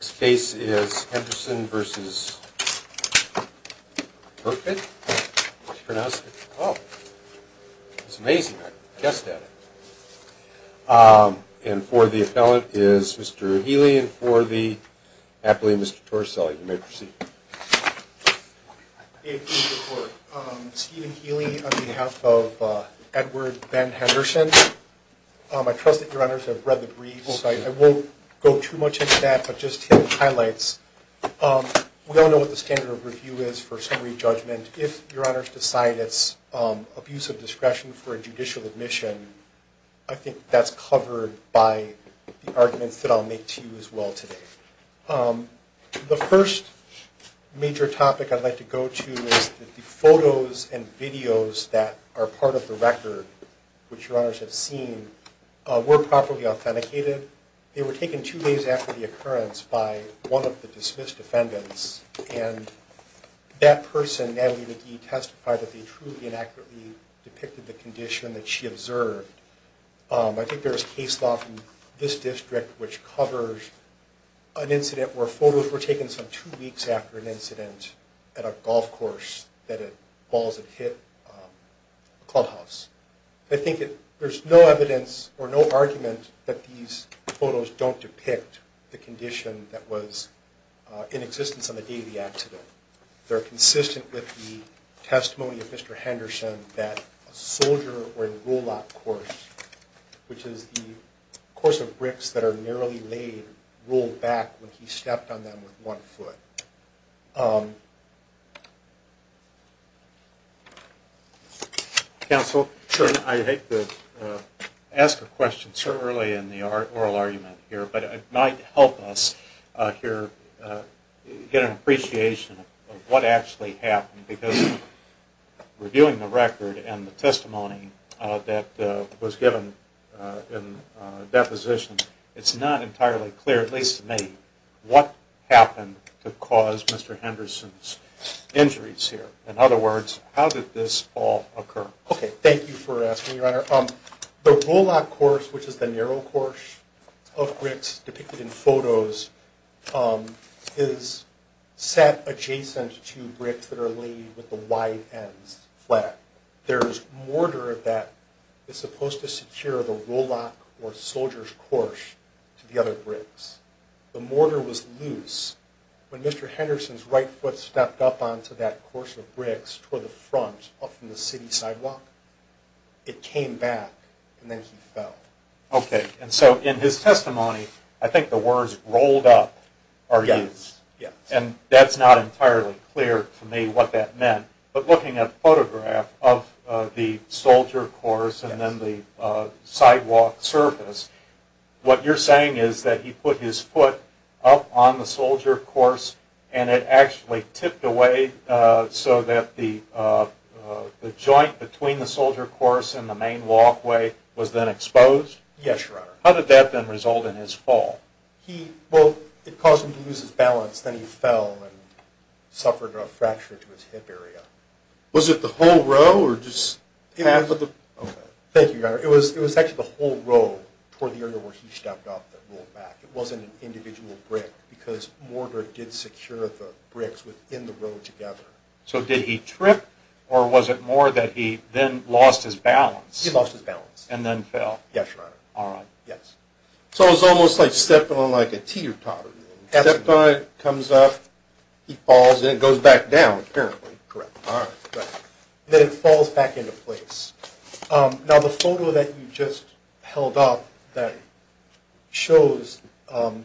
This case is Henderson v. Berkman, and for the appellant is Mr. Healy, and for the appellant is Mr. Torricelli, you may proceed. Steven Healy on behalf of Edward Ben Henderson. I trust that your honors have read the briefs. I won't go too much into that, but just to hit the highlights. We all know what the standard of review is for summary judgment. If your honors decide it's abuse of discretion for a judicial admission, I think that's covered by the arguments that I'll make to you as well today. The first major topic I'd like to go to is the photos and videos that are part of the record, which your honors have seen, were properly authenticated. They were taken two days after the occurrence by one of the dismissed defendants, and that person, Natalie McGee, testified that they truly and accurately depicted the condition that she observed. I think there is case law in this district which covers an incident where photos were taken some two weeks after an incident at a golf course that balls had hit a clubhouse. I think there's no evidence or no argument that these photos don't depict the condition that was in existence on the day of the accident. They're consistent with the testimony of Mr. Henderson that a soldier or a roll-up course, which is the course of bricks that are narrowly laid, rolled back when he stepped on them with one foot. Counsel? Sure. I hate to ask a question so early in the oral argument here, but it might help us here get an appreciation of what actually happened because reviewing the record and the testimony that was given in deposition, it's not entirely clear, at least to me, what happened to cause Mr. Henderson's injuries here. In other words, how did this all occur? Okay, thank you for asking, your honor. The roll-up course, which is the narrow course of bricks depicted in photos, is set adjacent to bricks that are laid with the wide ends flat. There's mortar that is supposed to secure the roll-up or soldier's course to the other bricks. The mortar was loose when Mr. Henderson's right foot stepped up onto that course of bricks toward the front up from the city sidewalk. It came back and then he fell. Okay, and so in his testimony, I think the words rolled up are used. Yes, yes. And that's not entirely clear to me what that meant, but looking at the photograph of the soldier course and then the sidewalk surface, what you're saying is that he put his foot up on the soldier course and it actually tipped away so that the joint between the soldier course and the main walkway was then exposed? Yes, your honor. How did that then result in his fall? Well, it caused him to lose his balance. Then he fell and suffered a fracture to his hip area. Was it the whole row or just? Thank you, your honor. It was actually the whole row toward the area where he stepped up that rolled back. It wasn't an individual brick because mortar did secure the bricks within the row together. So did he trip or was it more that he then lost his balance? He lost his balance. And then fell? Yes, your honor. All right, yes. So it was almost like stepping on like a teeter-totter. He stepped on it, comes up, he falls, and it goes back down apparently. Correct. All right. Then it falls back into place. Now, the photo that you just held up that shows the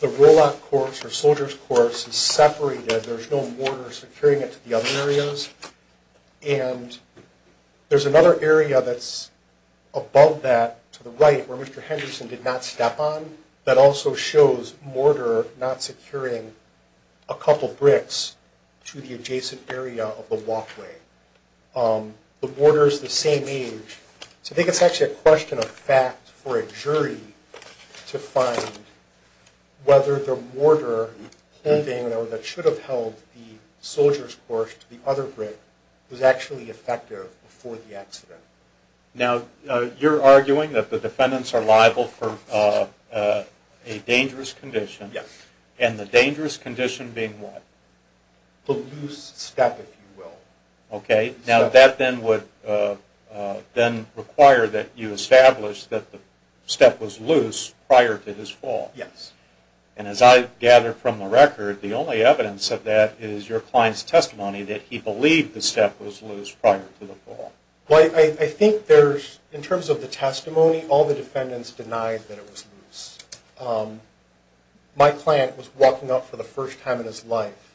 rollout course or soldier's course is separated. There's no mortar securing it to the other areas. And there's another area that's above that to the right where Mr. Henderson did not step on that also shows mortar not securing a couple bricks to the adjacent area of the walkway. The mortar is the same age. So I think it's actually a question of fact for a jury to find whether the mortar holding or whatever that should have held the soldier's course to the other brick was actually effective before the accident. Now, you're arguing that the defendants are liable for a dangerous condition. Yes. And the dangerous condition being what? The loose step, if you will. Okay. Now, that then would then require that you establish that the step was loose prior to his fall. Yes. And as I gather from the record, the only evidence of that is your client's testimony that he believed the step was loose prior to the fall. Well, I think there's, in terms of the testimony, all the defendants denied that it was loose. My client was walking up for the first time in his life,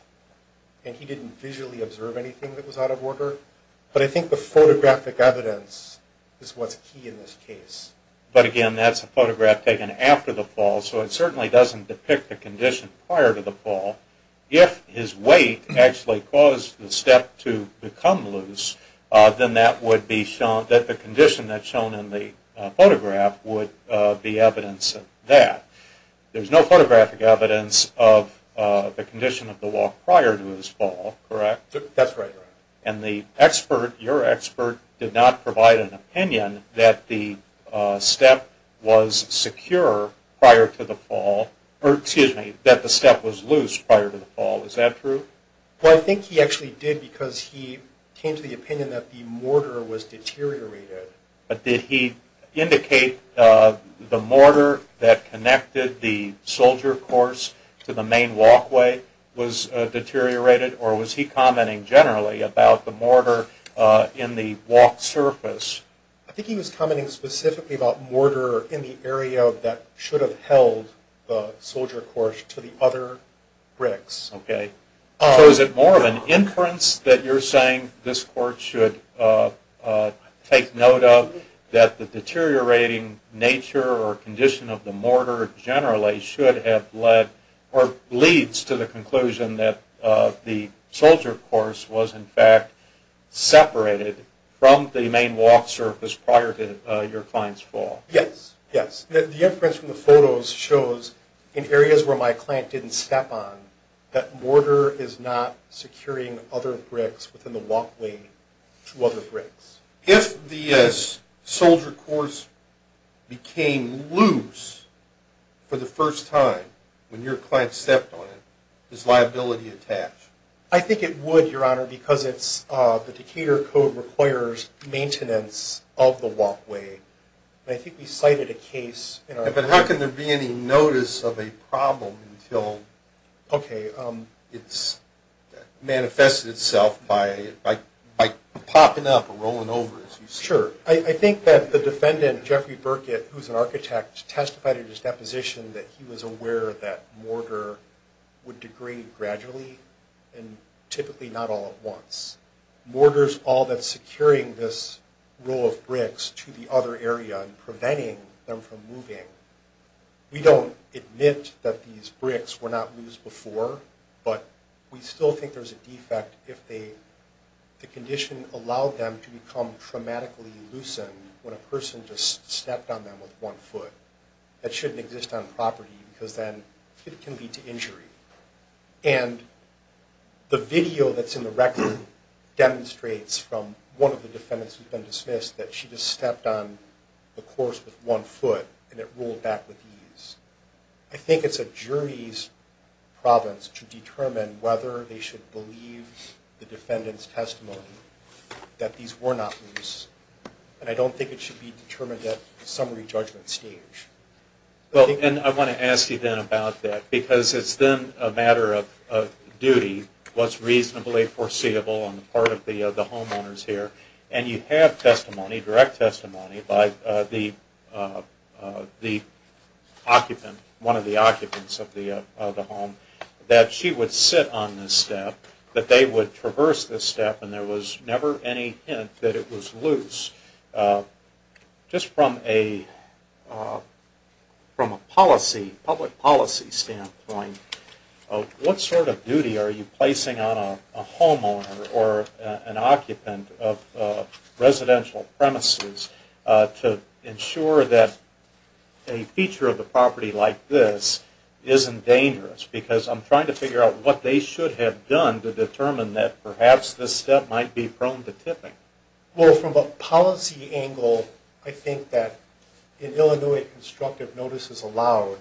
and he didn't visually observe anything that was out of order. But I think the photographic evidence is what's key in this case. But, again, that's a photograph taken after the fall, so it certainly doesn't depict the condition prior to the fall. If his weight actually caused the step to become loose, then that would be shown that the condition that's shown in the photograph would be evidence of that. There's no photographic evidence of the condition of the walk prior to his fall, correct? That's right. And the expert, your expert, did not provide an opinion that the step was secure prior to the fall, or, excuse me, that the step was loose prior to the fall. Is that true? Well, I think he actually did because he came to the opinion that the mortar was deteriorated. But did he indicate the mortar that connected the soldier course to the main walkway was deteriorated, or was he commenting generally about the mortar in the walk surface? I think he was commenting specifically about mortar in the area that should have held the soldier course to the other bricks. Okay. So is it more of an inference that you're saying this court should take note of that the deteriorating nature or condition of the mortar generally should have led or leads to the conclusion that the soldier course was, in fact, separated from the main walk surface prior to your client's fall? Yes, yes. The inference from the photos shows, in areas where my client didn't step on, that mortar is not securing other bricks within the walkway to other bricks. If the soldier course became loose for the first time when your client stepped on it, is liability attached? I think it would, Your Honor, because the Decatur Code requires maintenance of the walkway. I think we cited a case in our… But how can there be any notice of a problem until it's manifested itself by popping up or rolling over, as you say? Sure. I think that the defendant, Jeffrey Burkett, who's an architect, testified in his deposition that he was aware that mortar would degrade gradually and typically not all at once. Mortar's all that's securing this row of bricks to the other area and preventing them from moving. We don't admit that these bricks were not loose before, but we still think there's a defect if the condition allowed them to become traumatically loosened when a person just stepped on them with one foot. That shouldn't exist on property because then it can lead to injury. And the video that's in the record demonstrates from one of the defendants who's been dismissed that she just stepped on the course with one foot and it rolled back with ease. I think it's a jury's province to determine whether they should believe the defendant's testimony that these were not loose. And I don't think it should be determined at the summary judgment stage. And I want to ask you then about that because it's then a matter of duty, what's reasonably foreseeable on the part of the homeowners here. And you have testimony, direct testimony by the occupant, one of the occupants of the home, that she would sit on this step, that they would traverse this step, and there was never any hint that it was loose. Just from a policy, public policy standpoint, what sort of duty are you placing on a homeowner or an occupant of residential premises to ensure that a feature of the property like this isn't dangerous? Because I'm trying to figure out what they should have done to determine that perhaps this step might be prone to tipping. Well, from a policy angle, I think that in Illinois, constructive notice is allowed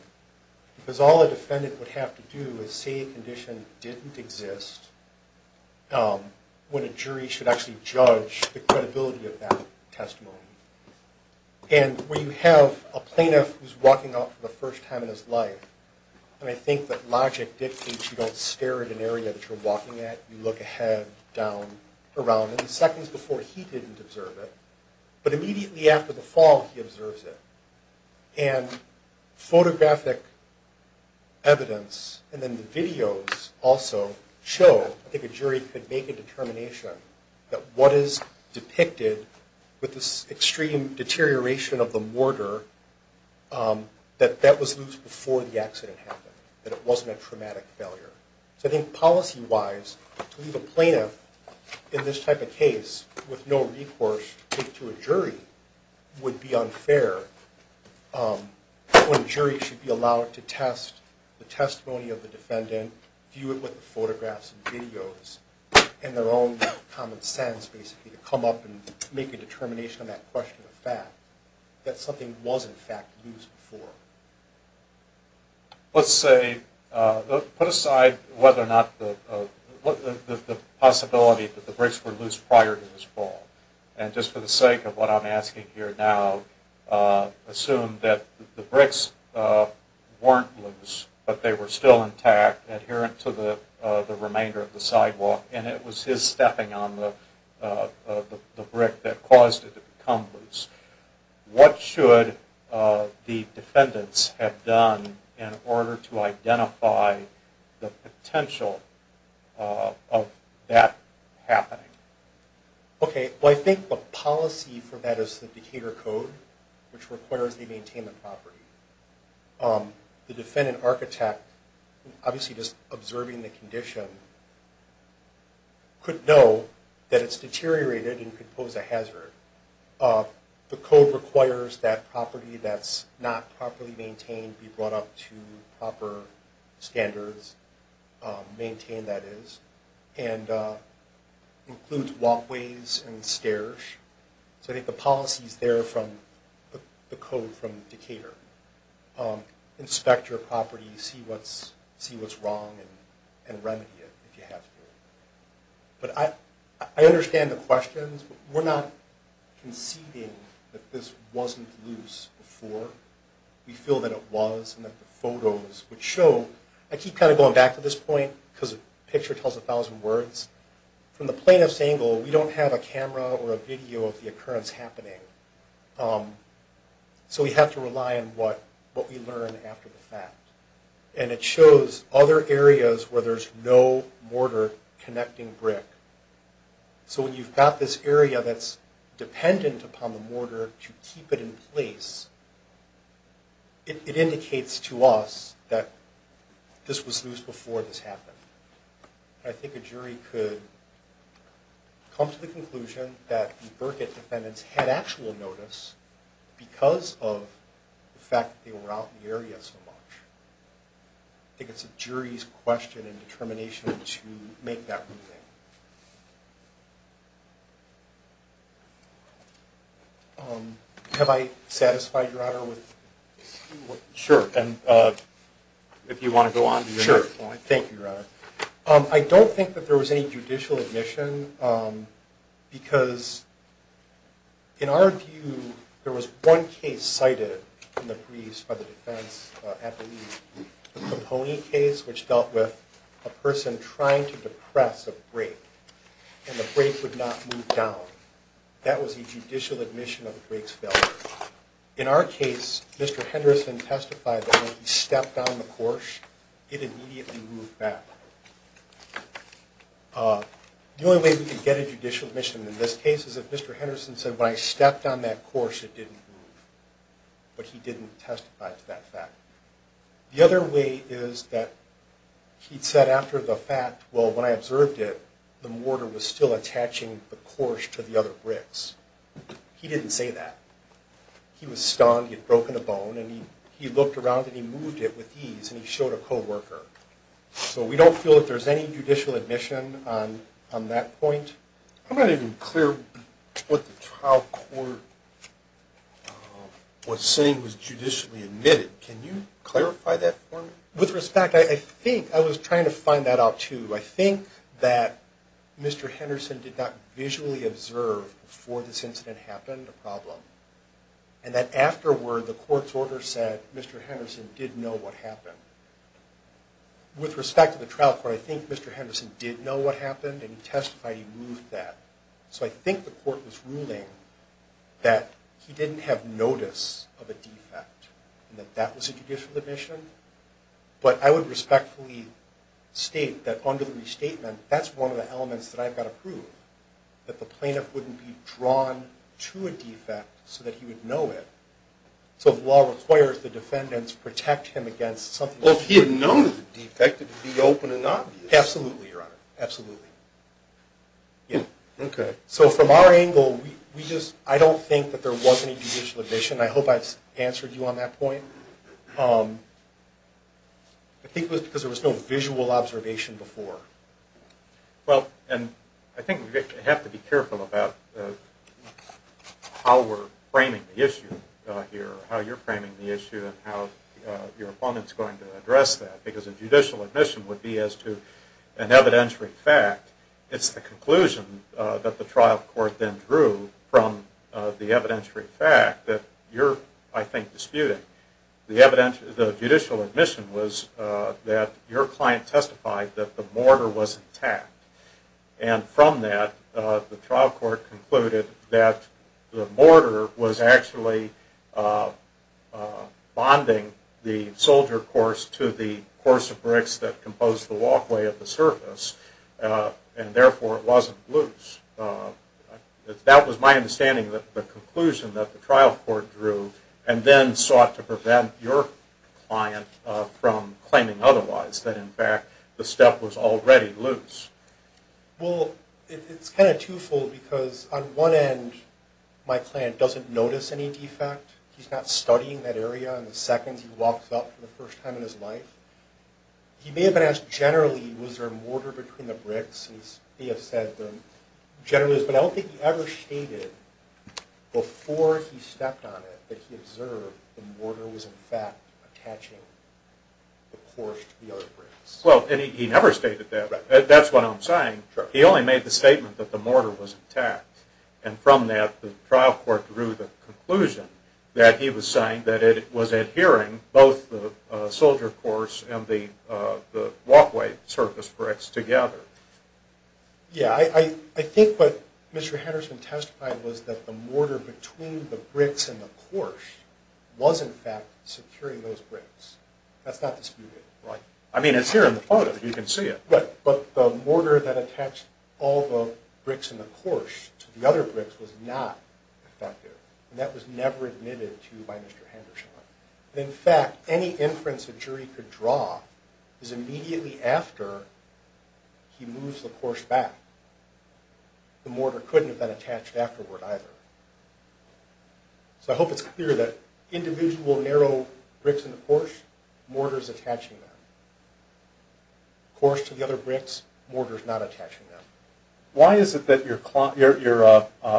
because all a defendant would have to do is say a condition didn't exist when a jury should actually judge the credibility of that testimony. And when you have a plaintiff who's walking out for the first time in his life, and I think that logic dictates you don't stare at an area that you're walking at, you look ahead, down, around. And the seconds before, he didn't observe it, but immediately after the fall, he observes it. And photographic evidence and then the videos also show, I think a jury could make a determination, that what is depicted with this extreme deterioration of the mortar, that that was loose before the accident happened, that it wasn't a traumatic failure. So I think policy-wise, to leave a plaintiff in this type of case with no recourse to a jury would be unfair when a jury should be allowed to test the testimony of the defendant, view it with the photographs and videos, and their own common sense, basically, to come up and make a determination on that question of fact, that something was, in fact, loose before. Let's say, put aside whether or not the possibility that the bricks were loose prior to this fall, and just for the sake of what I'm asking here now, assume that the bricks weren't loose, but they were still intact, adherent to the remainder of the sidewalk, and it was his stepping on the brick that caused it to become loose. What should the defendants have done in order to identify the potential of that happening? Okay, well, I think the policy for that is the Decatur Code, which requires they maintain the property. The defendant architect, obviously just observing the condition, could know that it's deteriorated and could pose a hazard. The code requires that property that's not properly maintained be brought up to proper standards, maintained, that is, and includes walkways and stairs. So I think the policy is there from the code from Decatur. Inspect your property, see what's wrong, and remedy it if you have to. But I understand the questions. We're not conceding that this wasn't loose before. We feel that it was and that the photos would show. I keep kind of going back to this point because a picture tells a thousand words. From the plaintiff's angle, we don't have a camera or a video of the occurrence happening, so we have to rely on what we learn after the fact. And it shows other areas where there's no mortar connecting brick. So when you've got this area that's dependent upon the mortar to keep it in place, it indicates to us that this was loose before this happened. I think a jury could come to the conclusion that the Burkitt defendants had actual notice because of the fact that they were out in the area so much. I think it's a jury's question and determination to make that ruling. Have I satisfied your honor with what you want? Sure. And if you want to go on to your next point. Sure. Thank you, your honor. I don't think that there was any judicial admission because, in our view, there was one case cited in the briefs by the defense at the lead. The Pony case, which dealt with a person trying to depress a break, and the break would not move down. That was a judicial admission of the break's failure. In our case, Mr. Henderson testified that when he stepped down the course, it immediately moved back. The only way we could get a judicial admission in this case is if Mr. Henderson said, when I stepped on that course, it didn't move. But he didn't testify to that fact. The other way is that he said after the fact, well, when I observed it, the mortar was still attaching the course to the other bricks. He didn't say that. He was stunned. He had broken a bone. And he looked around, and he moved it with ease, and he showed a coworker. So we don't feel that there's any judicial admission on that point. I'm not even clear what the trial court was saying was judicially admitted. Can you clarify that for me? With respect, I think I was trying to find that out, too. I think that Mr. Henderson did not visually observe before this incident happened a problem, and that afterward the court's order said Mr. Henderson did know what happened. With respect to the trial court, I think Mr. Henderson did know what happened, and he testified he moved that. So I think the court was ruling that he didn't have notice of a defect, and that that was a judicial admission. But I would respectfully state that under the restatement, that's one of the elements that I've got to prove, that the plaintiff wouldn't be drawn to a defect so that he would know it. So if law requires the defendants protect him against something that's not true. Well, if he had known it was a defect, it would be open and obvious. Absolutely, Your Honor, absolutely. So from our angle, I don't think that there was any judicial admission. I hope I've answered you on that point. I think it was because there was no visual observation before. Well, and I think we have to be careful about how we're framing the issue here, how you're framing the issue, and how your opponent's going to address that, because a judicial admission would be as to an evidentiary fact. It's the conclusion that the trial court then drew from the evidentiary fact that you're, I think, disputing. The judicial admission was that your client testified that the mortar was intact. And from that, the trial court concluded that the mortar was actually bonding the soldier course to the course of bricks that composed the walkway at the surface, and therefore it wasn't loose. That was my understanding of the conclusion that the trial court drew and then sought to prevent your client from claiming otherwise, that, in fact, the step was already loose. Well, it's kind of twofold, because on one end, my client doesn't notice any defect. He's not studying that area. And the second he walks up for the first time in his life, he may have been asked generally, was there mortar between the bricks? He has said generally, but I don't think he ever stated before he stepped on it that he observed the mortar was, in fact, attaching the course to the other bricks. Well, and he never stated that. That's what I'm saying. He only made the statement that the mortar was intact. And from that, the trial court drew the conclusion that he was saying that it was adhering both the soldier course and the walkway surface bricks together. Yeah, I think what Mr. Henderson testified was that the mortar between the bricks and the course was, in fact, securing those bricks. That's not disputed. Right. I mean, it's here in the photo. You can see it. But the mortar that attached all the bricks and the course to the other bricks was not effective, and that was never admitted to by Mr. Henderson. In fact, any inference a jury could draw is immediately after he moves the course back. The mortar couldn't have been attached afterward either. So I hope it's clear that individual narrow bricks and the course, mortar is attaching them. Course to the other bricks, mortar is not attaching them. Why is it that your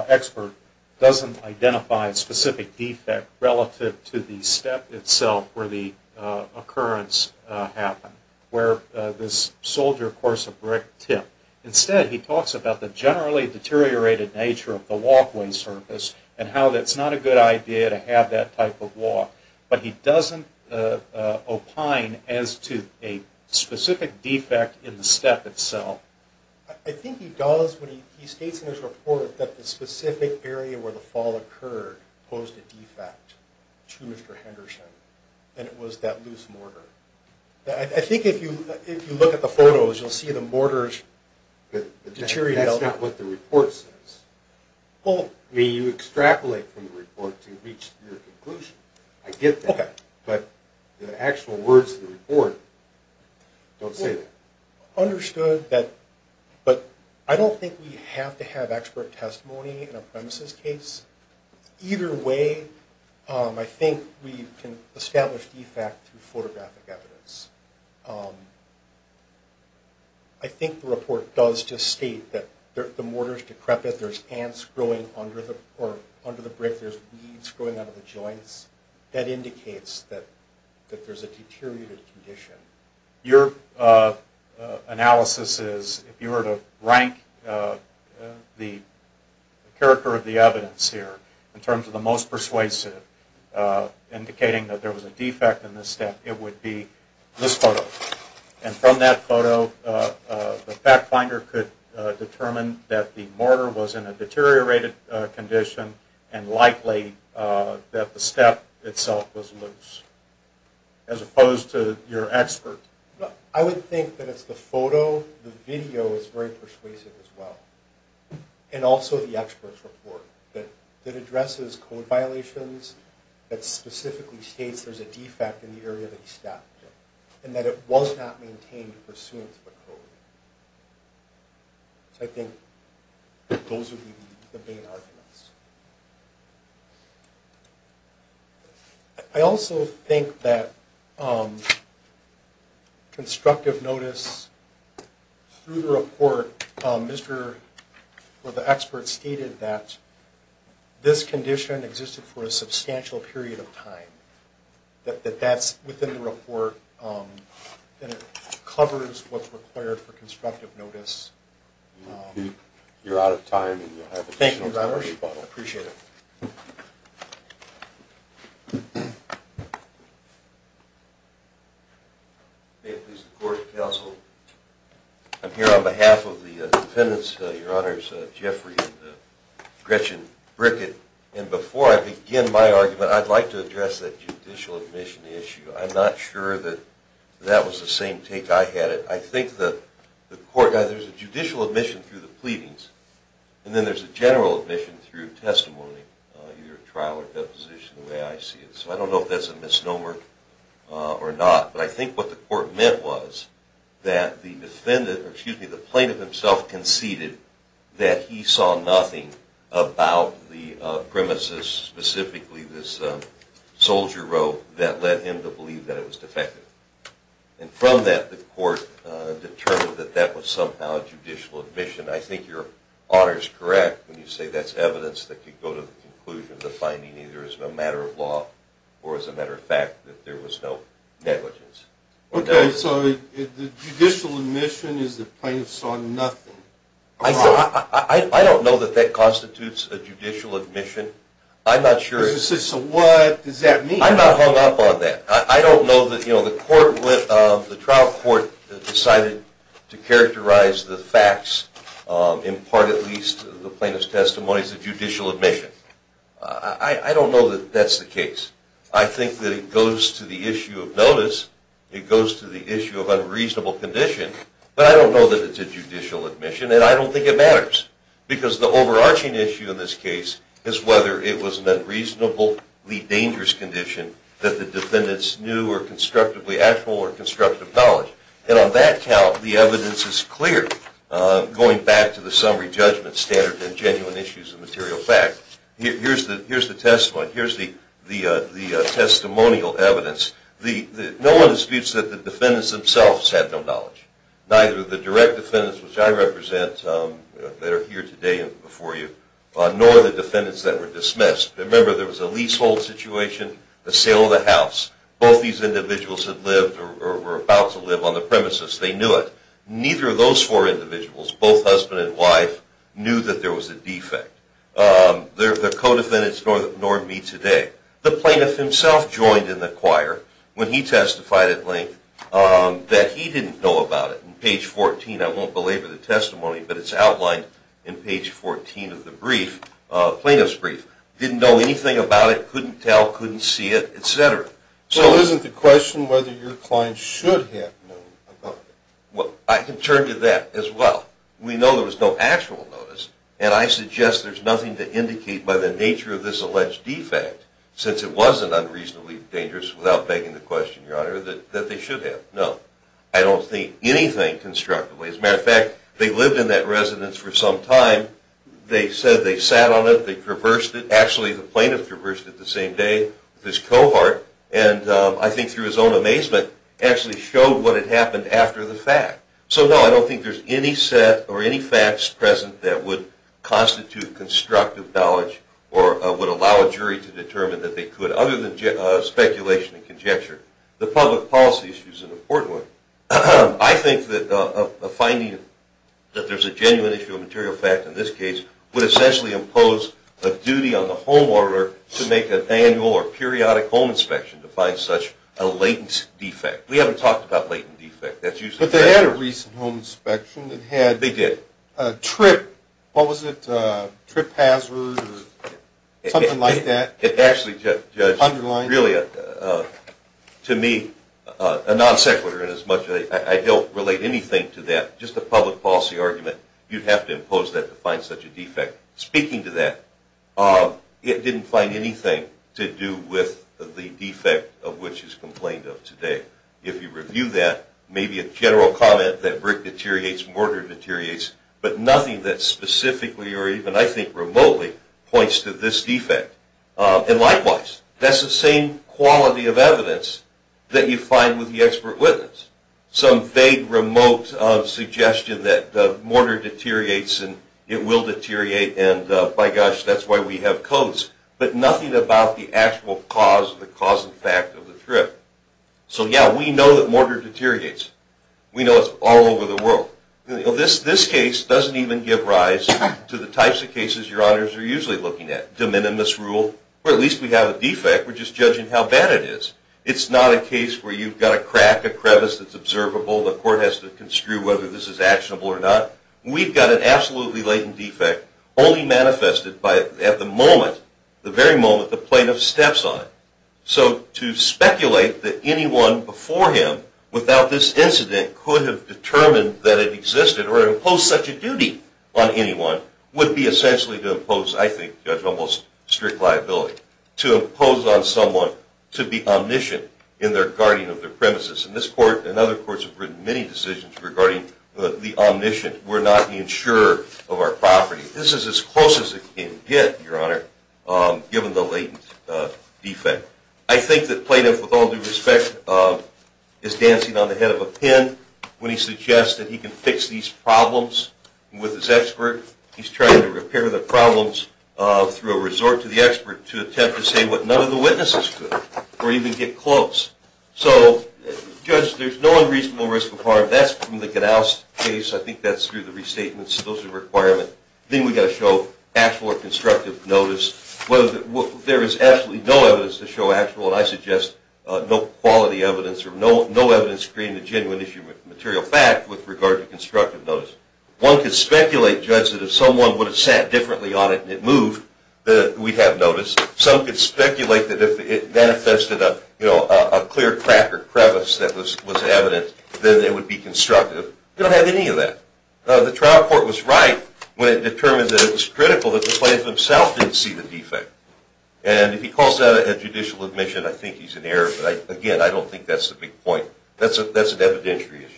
expert doesn't identify a specific defect relative to the step itself where the occurrence happened, where this soldier course of brick tip? Instead, he talks about the generally deteriorated nature of the walkway surface and how that's not a good idea to have that type of walk. But he doesn't opine as to a specific defect in the step itself. I think he does when he states in his report that the specific area where the fall occurred posed a defect to Mr. Henderson, and it was that loose mortar. I think if you look at the photos, you'll see the mortars deteriorate. That's not what the report says. You extrapolate from the report to reach your conclusion. I get that, but the actual words of the report don't say that. Understood, but I don't think we have to have expert testimony in a premises case. Either way, I think we can establish defect through photographic evidence. I think the report does just state that the mortar is decrepit. There's ants growing under the brick. There's weeds growing out of the joints. That indicates that there's a deteriorated condition. Your analysis is, if you were to rank the character of the evidence here in terms of the most persuasive, indicating that there was a defect in this step, it would be this photo. From that photo, the fact finder could determine that the mortar was in a deteriorated condition and likely that the step itself was loose, as opposed to your expert. I would think that it's the photo. The video is very persuasive as well. And also the expert's report that addresses code violations, that specifically states there's a defect in the area of the step and that it was not maintained pursuant to the code. I think those would be the main arguments. I also think that constructive notice through the report, where the expert stated that this condition existed for a substantial period of time, that that's within the report and it covers what's required for constructive notice. You're out of time and you'll have additional time to rebuttal. Thank you, Your Honors. I appreciate it. May it please the Court, counsel. I'm here on behalf of the defendants, Your Honors, Jeffrey and Gretchen Brickett. And before I begin my argument, I'd like to address that judicial admission issue. I'm not sure that that was the same take I had it. I think the court, there's a judicial admission through the pleadings, and then there's a general admission through testimony, either trial or deposition, the way I see it. So I don't know if that's a misnomer or not. But I think what the court meant was that the defendant, excuse me, the plaintiff himself conceded that he saw nothing about the premises, specifically this soldier robe that led him to believe that it was defective. And from that, the court determined that that was somehow a judicial admission. I think Your Honor's correct when you say that's evidence that could go to the conclusion of the finding either as a matter of law or as a matter of fact that there was no negligence. Okay, so the judicial admission is the plaintiff saw nothing. I don't know that that constitutes a judicial admission. I'm not sure. So what does that mean? I'm not hung up on that. I don't know that, you know, the trial court decided to characterize the facts, in part at least, the plaintiff's testimony as a judicial admission. I don't know that that's the case. I think that it goes to the issue of notice. It goes to the issue of unreasonable condition. But I don't know that it's a judicial admission, and I don't think it matters. Because the overarching issue in this case is whether it was an unreasonably dangerous condition that the defendants knew or constructively had full or constructive knowledge. And on that count, the evidence is clear, going back to the summary judgment standard and genuine issues of material fact. Here's the testimony. Here's the testimonial evidence. No one disputes that the defendants themselves had no knowledge, neither the direct defendants, which I represent that are here today before you, nor the defendants that were dismissed. Remember, there was a leasehold situation, a sale of the house. Both these individuals had lived or were about to live on the premises. They knew it. Neither of those four individuals, both husband and wife, knew that there was a defect. They're co-defendants, nor me today. The plaintiff himself joined in the choir when he testified at length that he didn't know about it. On page 14, I won't belabor the testimony, but it's outlined in page 14 of the brief, plaintiff's brief. Didn't know anything about it, couldn't tell, couldn't see it, et cetera. So isn't the question whether your client should have known about it? Well, I can turn to that as well. We know there was no actual notice, and I suggest there's nothing to indicate by the nature of this alleged defect, since it wasn't unreasonably dangerous, without begging the question, Your Honor, that they should have known. I don't think anything constructively. As a matter of fact, they lived in that residence for some time. They said they sat on it, they traversed it. Actually, the plaintiff traversed it the same day with his cohort, and I think through his own amazement, actually showed what had happened after the fact. So no, I don't think there's any set or any facts present that would constitute constructive knowledge or would allow a jury to determine that they could, other than speculation and conjecture. The public policy issue is an important one. I think that a finding that there's a genuine issue of material fact in this case would essentially impose a duty on the homeowner to make an annual or periodic home inspection to find such a latent defect. We haven't talked about latent defects. But they had a recent home inspection. They did. It had a trip hazard or something like that. Actually, Judge, really, to me, a non-sequitur in as much as I don't relate anything to that, just a public policy argument, you'd have to impose that to find such a defect. Speaking to that, it didn't find anything to do with the defect of which is complained of today. If you review that, maybe a general comment that brick deteriorates, mortar deteriorates, but nothing that specifically or even, I think, remotely points to this defect. And likewise, that's the same quality of evidence that you find with the expert witness, some vague remote suggestion that mortar deteriorates and it will deteriorate, and by gosh, that's why we have codes, but nothing about the actual cause, the cause and fact of the trip. So, yeah, we know that mortar deteriorates. We know it's all over the world. This case doesn't even give rise to the types of cases your honors are usually looking at, de minimis rule, or at least we have a defect. We're just judging how bad it is. It's not a case where you've got a crack, a crevice that's observable, the court has to construe whether this is actionable or not. We've got an absolutely latent defect only manifested at the moment, the very moment the plaintiff steps on it. So to speculate that anyone before him, without this incident, could have determined that it existed or imposed such a duty on anyone would be essentially to impose, I think, Judge, almost strict liability, to impose on someone to be omniscient in their guarding of their premises. And this court and other courts have written many decisions regarding the omniscient. We're not being sure of our property. This is as close as it can get, your honor, given the latent defect. I think that plaintiff, with all due respect, is dancing on the head of a pin when he suggests that he can fix these problems with his expert. He's trying to repair the problems through a resort to the expert to attempt to say what none of the witnesses could, or even get close. So, Judge, there's no unreasonable risk of harm. That's from the Gadows case. I think that's through the restatements. Those are requirements. I think we've got to show actual or constructive notice. There is absolutely no evidence to show actual, and I suggest no quality evidence or no evidence to create a genuine issue of material fact with regard to constructive notice. One could speculate, Judge, that if someone would have sat differently on it and it moved, that we'd have notice. Some could speculate that if it manifested a clear crack or crevice that was evident, then it would be constructive. We don't have any of that. The trial court was right when it determined that it was critical that the plaintiff himself didn't see the defect. And if he calls that a judicial admission, I think he's in error. But, again, I don't think that's the big point. That's an evidentiary issue.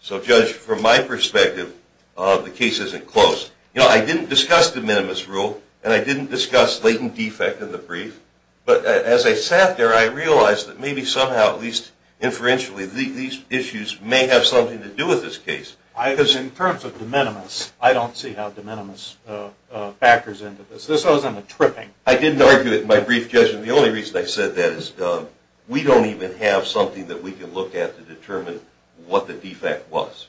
So, Judge, from my perspective, the case isn't closed. I didn't discuss the minimus rule, and I didn't discuss latent defect in the brief. But as I sat there, I realized that maybe somehow, at least inferentially, these issues may have something to do with this case. Because in terms of the minimus, I don't see how the minimus factors into this. This owes him a tripping. I didn't argue it in my brief, Judge. And the only reason I said that is we don't even have something that we can look at to determine what the defect was.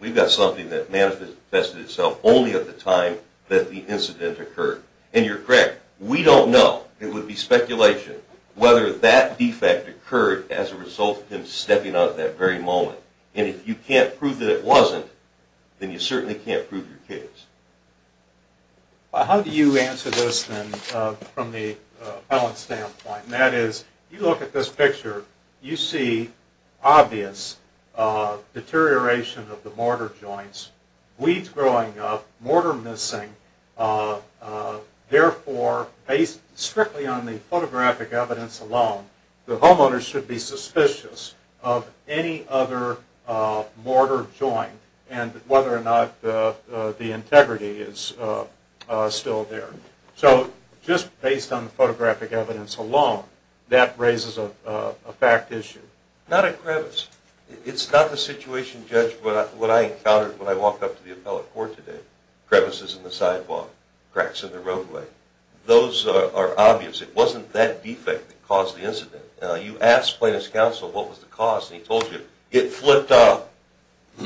We've got something that manifested itself only at the time that the incident occurred. And you're correct. We don't know. It would be speculation whether that defect occurred as a result of him stepping out at that very moment. And if you can't prove that it wasn't, then you certainly can't prove your case. How do you answer this, then, from the appellant's standpoint? And that is, you look at this picture, you see obvious deterioration of the mortar joints, weeds growing up, mortar missing. Therefore, based strictly on the photographic evidence alone, the homeowner should be suspicious of any other mortar joint and whether or not the integrity is still there. So just based on the photographic evidence alone, that raises a fact issue. Not a crevice. It's not the situation, Judge, what I encountered when I walked up to the appellate court today. Crevices in the sidewalk, cracks in the roadway. Those are obvious. It wasn't that defect that caused the incident. You ask plaintiff's counsel what was the cause, and he told you, it flipped off.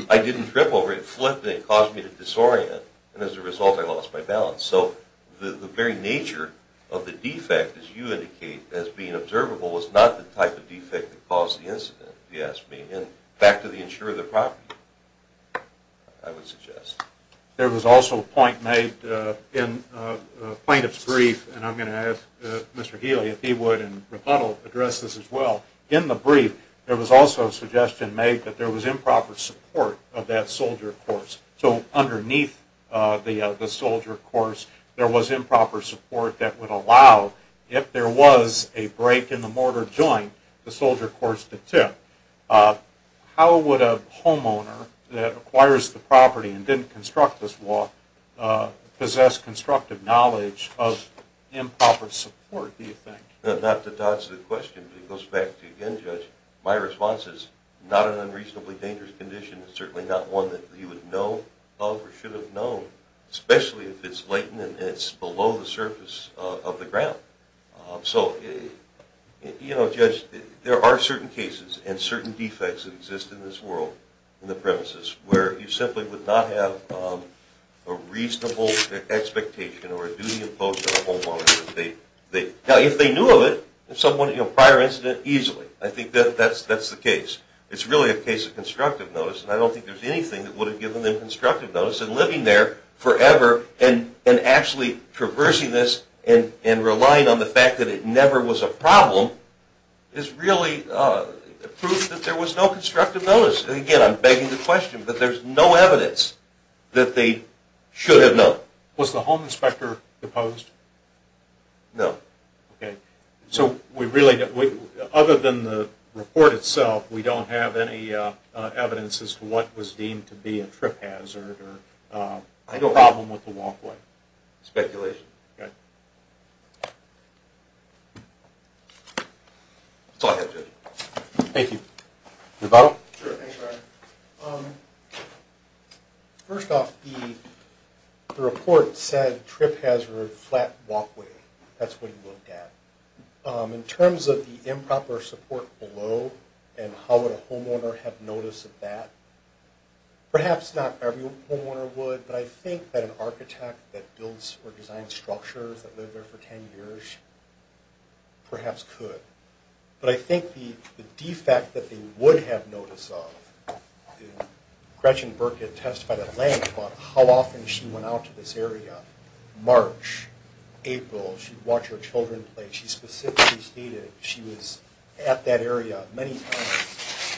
I didn't trip over it. It flipped and it caused me to disorient, and as a result I lost my balance. So the very nature of the defect, as you indicate, as being observable, was not the type of defect that caused the incident, if you ask me. And back to the insurer of the property, I would suggest. There was also a point made in the plaintiff's brief, and I'm going to ask Mr. Healy if he would, in rebuttal, address this as well. In the brief, there was also a suggestion made that there was improper support of that soldier course. So underneath the soldier course, there was improper support that would allow, if there was a break in the mortar joint, the soldier course to tip. How would a homeowner that acquires the property and didn't construct this wall possess constructive knowledge of improper support, do you think? Not to toss the question, but it goes back to, again, Judge, my response is not an unreasonably dangerous condition. It's certainly not one that you would know of or should have known, especially if it's latent and it's below the surface of the ground. So, Judge, there are certain cases and certain defects that exist in this world, in the premises, where you simply would not have a reasonable expectation or a duty imposed on a homeowner. Now, if they knew of it, a prior incident, easily. I think that's the case. It's really a case of constructive notice, and I don't think there's anything that would have given them constructive notice in living there forever and actually traversing this and relying on the fact that it never was a problem is really proof that there was no constructive notice. Again, I'm begging the question, but there's no evidence that they should have known. Was the home inspector opposed? No. Okay. So, other than the report itself, we don't have any evidence as to what was deemed to be a trip hazard or a problem with the walkway. Speculation. Okay. Go ahead, Judge. Thank you. Nevado? Sure. Thanks, Brian. First off, the report said trip hazard, flat walkway. That's what he looked at. In terms of the improper support below and how would a homeowner have notice of that, perhaps not every homeowner would, but I think that an architect that builds or designs structures that live there for 10 years perhaps could. But I think the defect that they would have notice of, Gretchen Burke had testified at length about how often she went out to this area. March, April, she'd watch her children play. She specifically stated she was at that area many times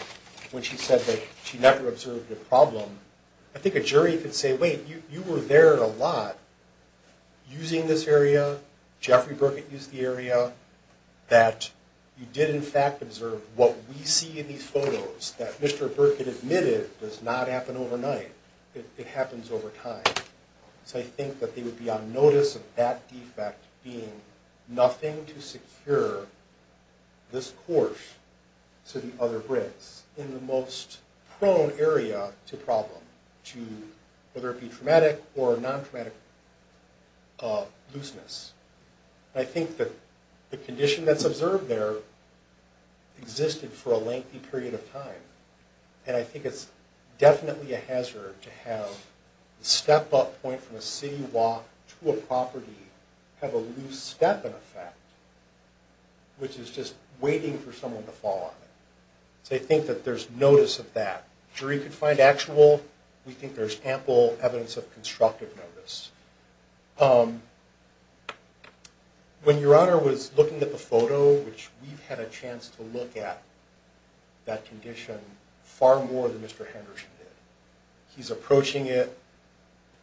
when she said that she never observed a problem. I think a jury could say, wait, you were there a lot using this area, Jeffrey Burkett used the area, that you did, in fact, observe what we see in these photos that Mr. Burkett admitted does not happen overnight. It happens over time. So I think that they would be on notice of that defect being nothing to secure this course to the other bricks in the most prone area to problem, whether it be traumatic or non-traumatic looseness. I think that the condition that's observed there existed for a lengthy period of time, and I think it's definitely a hazard to have the step-up point from a city walk to a property have a loose step in effect, which is just waiting for someone to fall on it. So I think that there's notice of that. The jury could find actual. We think there's ample evidence of constructive notice. When Your Honor was looking at the photo, which we've had a chance to look at that condition far more than Mr. Henderson did. He's approaching it.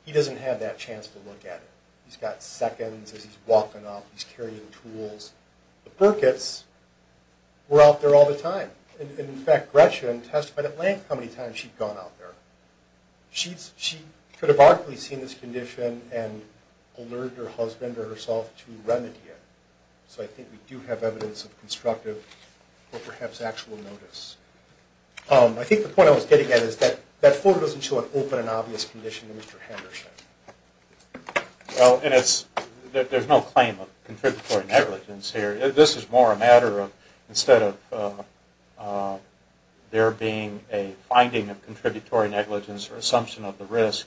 He doesn't have that chance to look at it. He's got seconds as he's walking up. He's carrying tools. But Burkett's were out there all the time. In fact, Gretchen testified at length how many times she'd gone out there. She could have arguably seen this condition and alerted her husband or herself to remedy it. So I think we do have evidence of constructive or perhaps actual notice. I think the point I was getting at is that that photo doesn't show an open and obvious condition in Mr. Henderson. Well, there's no claim of contributory negligence here. This is more a matter of instead of there being a finding of contributory negligence or assumption of the risk,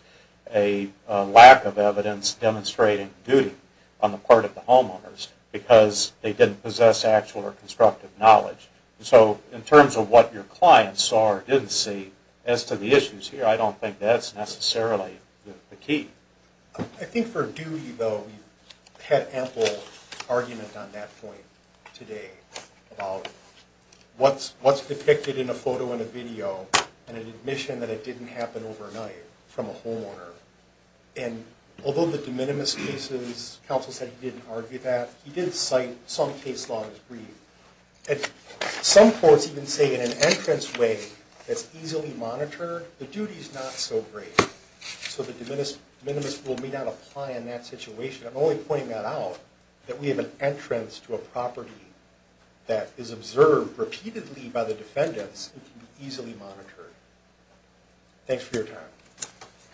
a lack of evidence demonstrating duty on the part of the homeowners because they didn't possess actual or constructive knowledge. So in terms of what your client saw or didn't see, as to the issues here, I don't think that's necessarily the key. I think for duty, though, we've had ample argument on that point today about what's depicted in a photo and a video and an admission that it didn't happen overnight from a homeowner. And although the de minimis cases, counsel said he didn't argue that, he did cite some case law as brief. Some courts even say in an entrance way that's easily monitored, the duty's not so great. So the de minimis rule may not apply in that situation. I'm only pointing that out that we have an entrance to a property that is observed repeatedly by the defendants and can be easily monitored. Thanks for your time.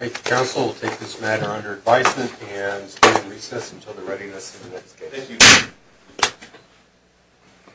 Okay, counsel, we'll take this matter under advisement and we'll recess until the readiness of the next case. Thank you.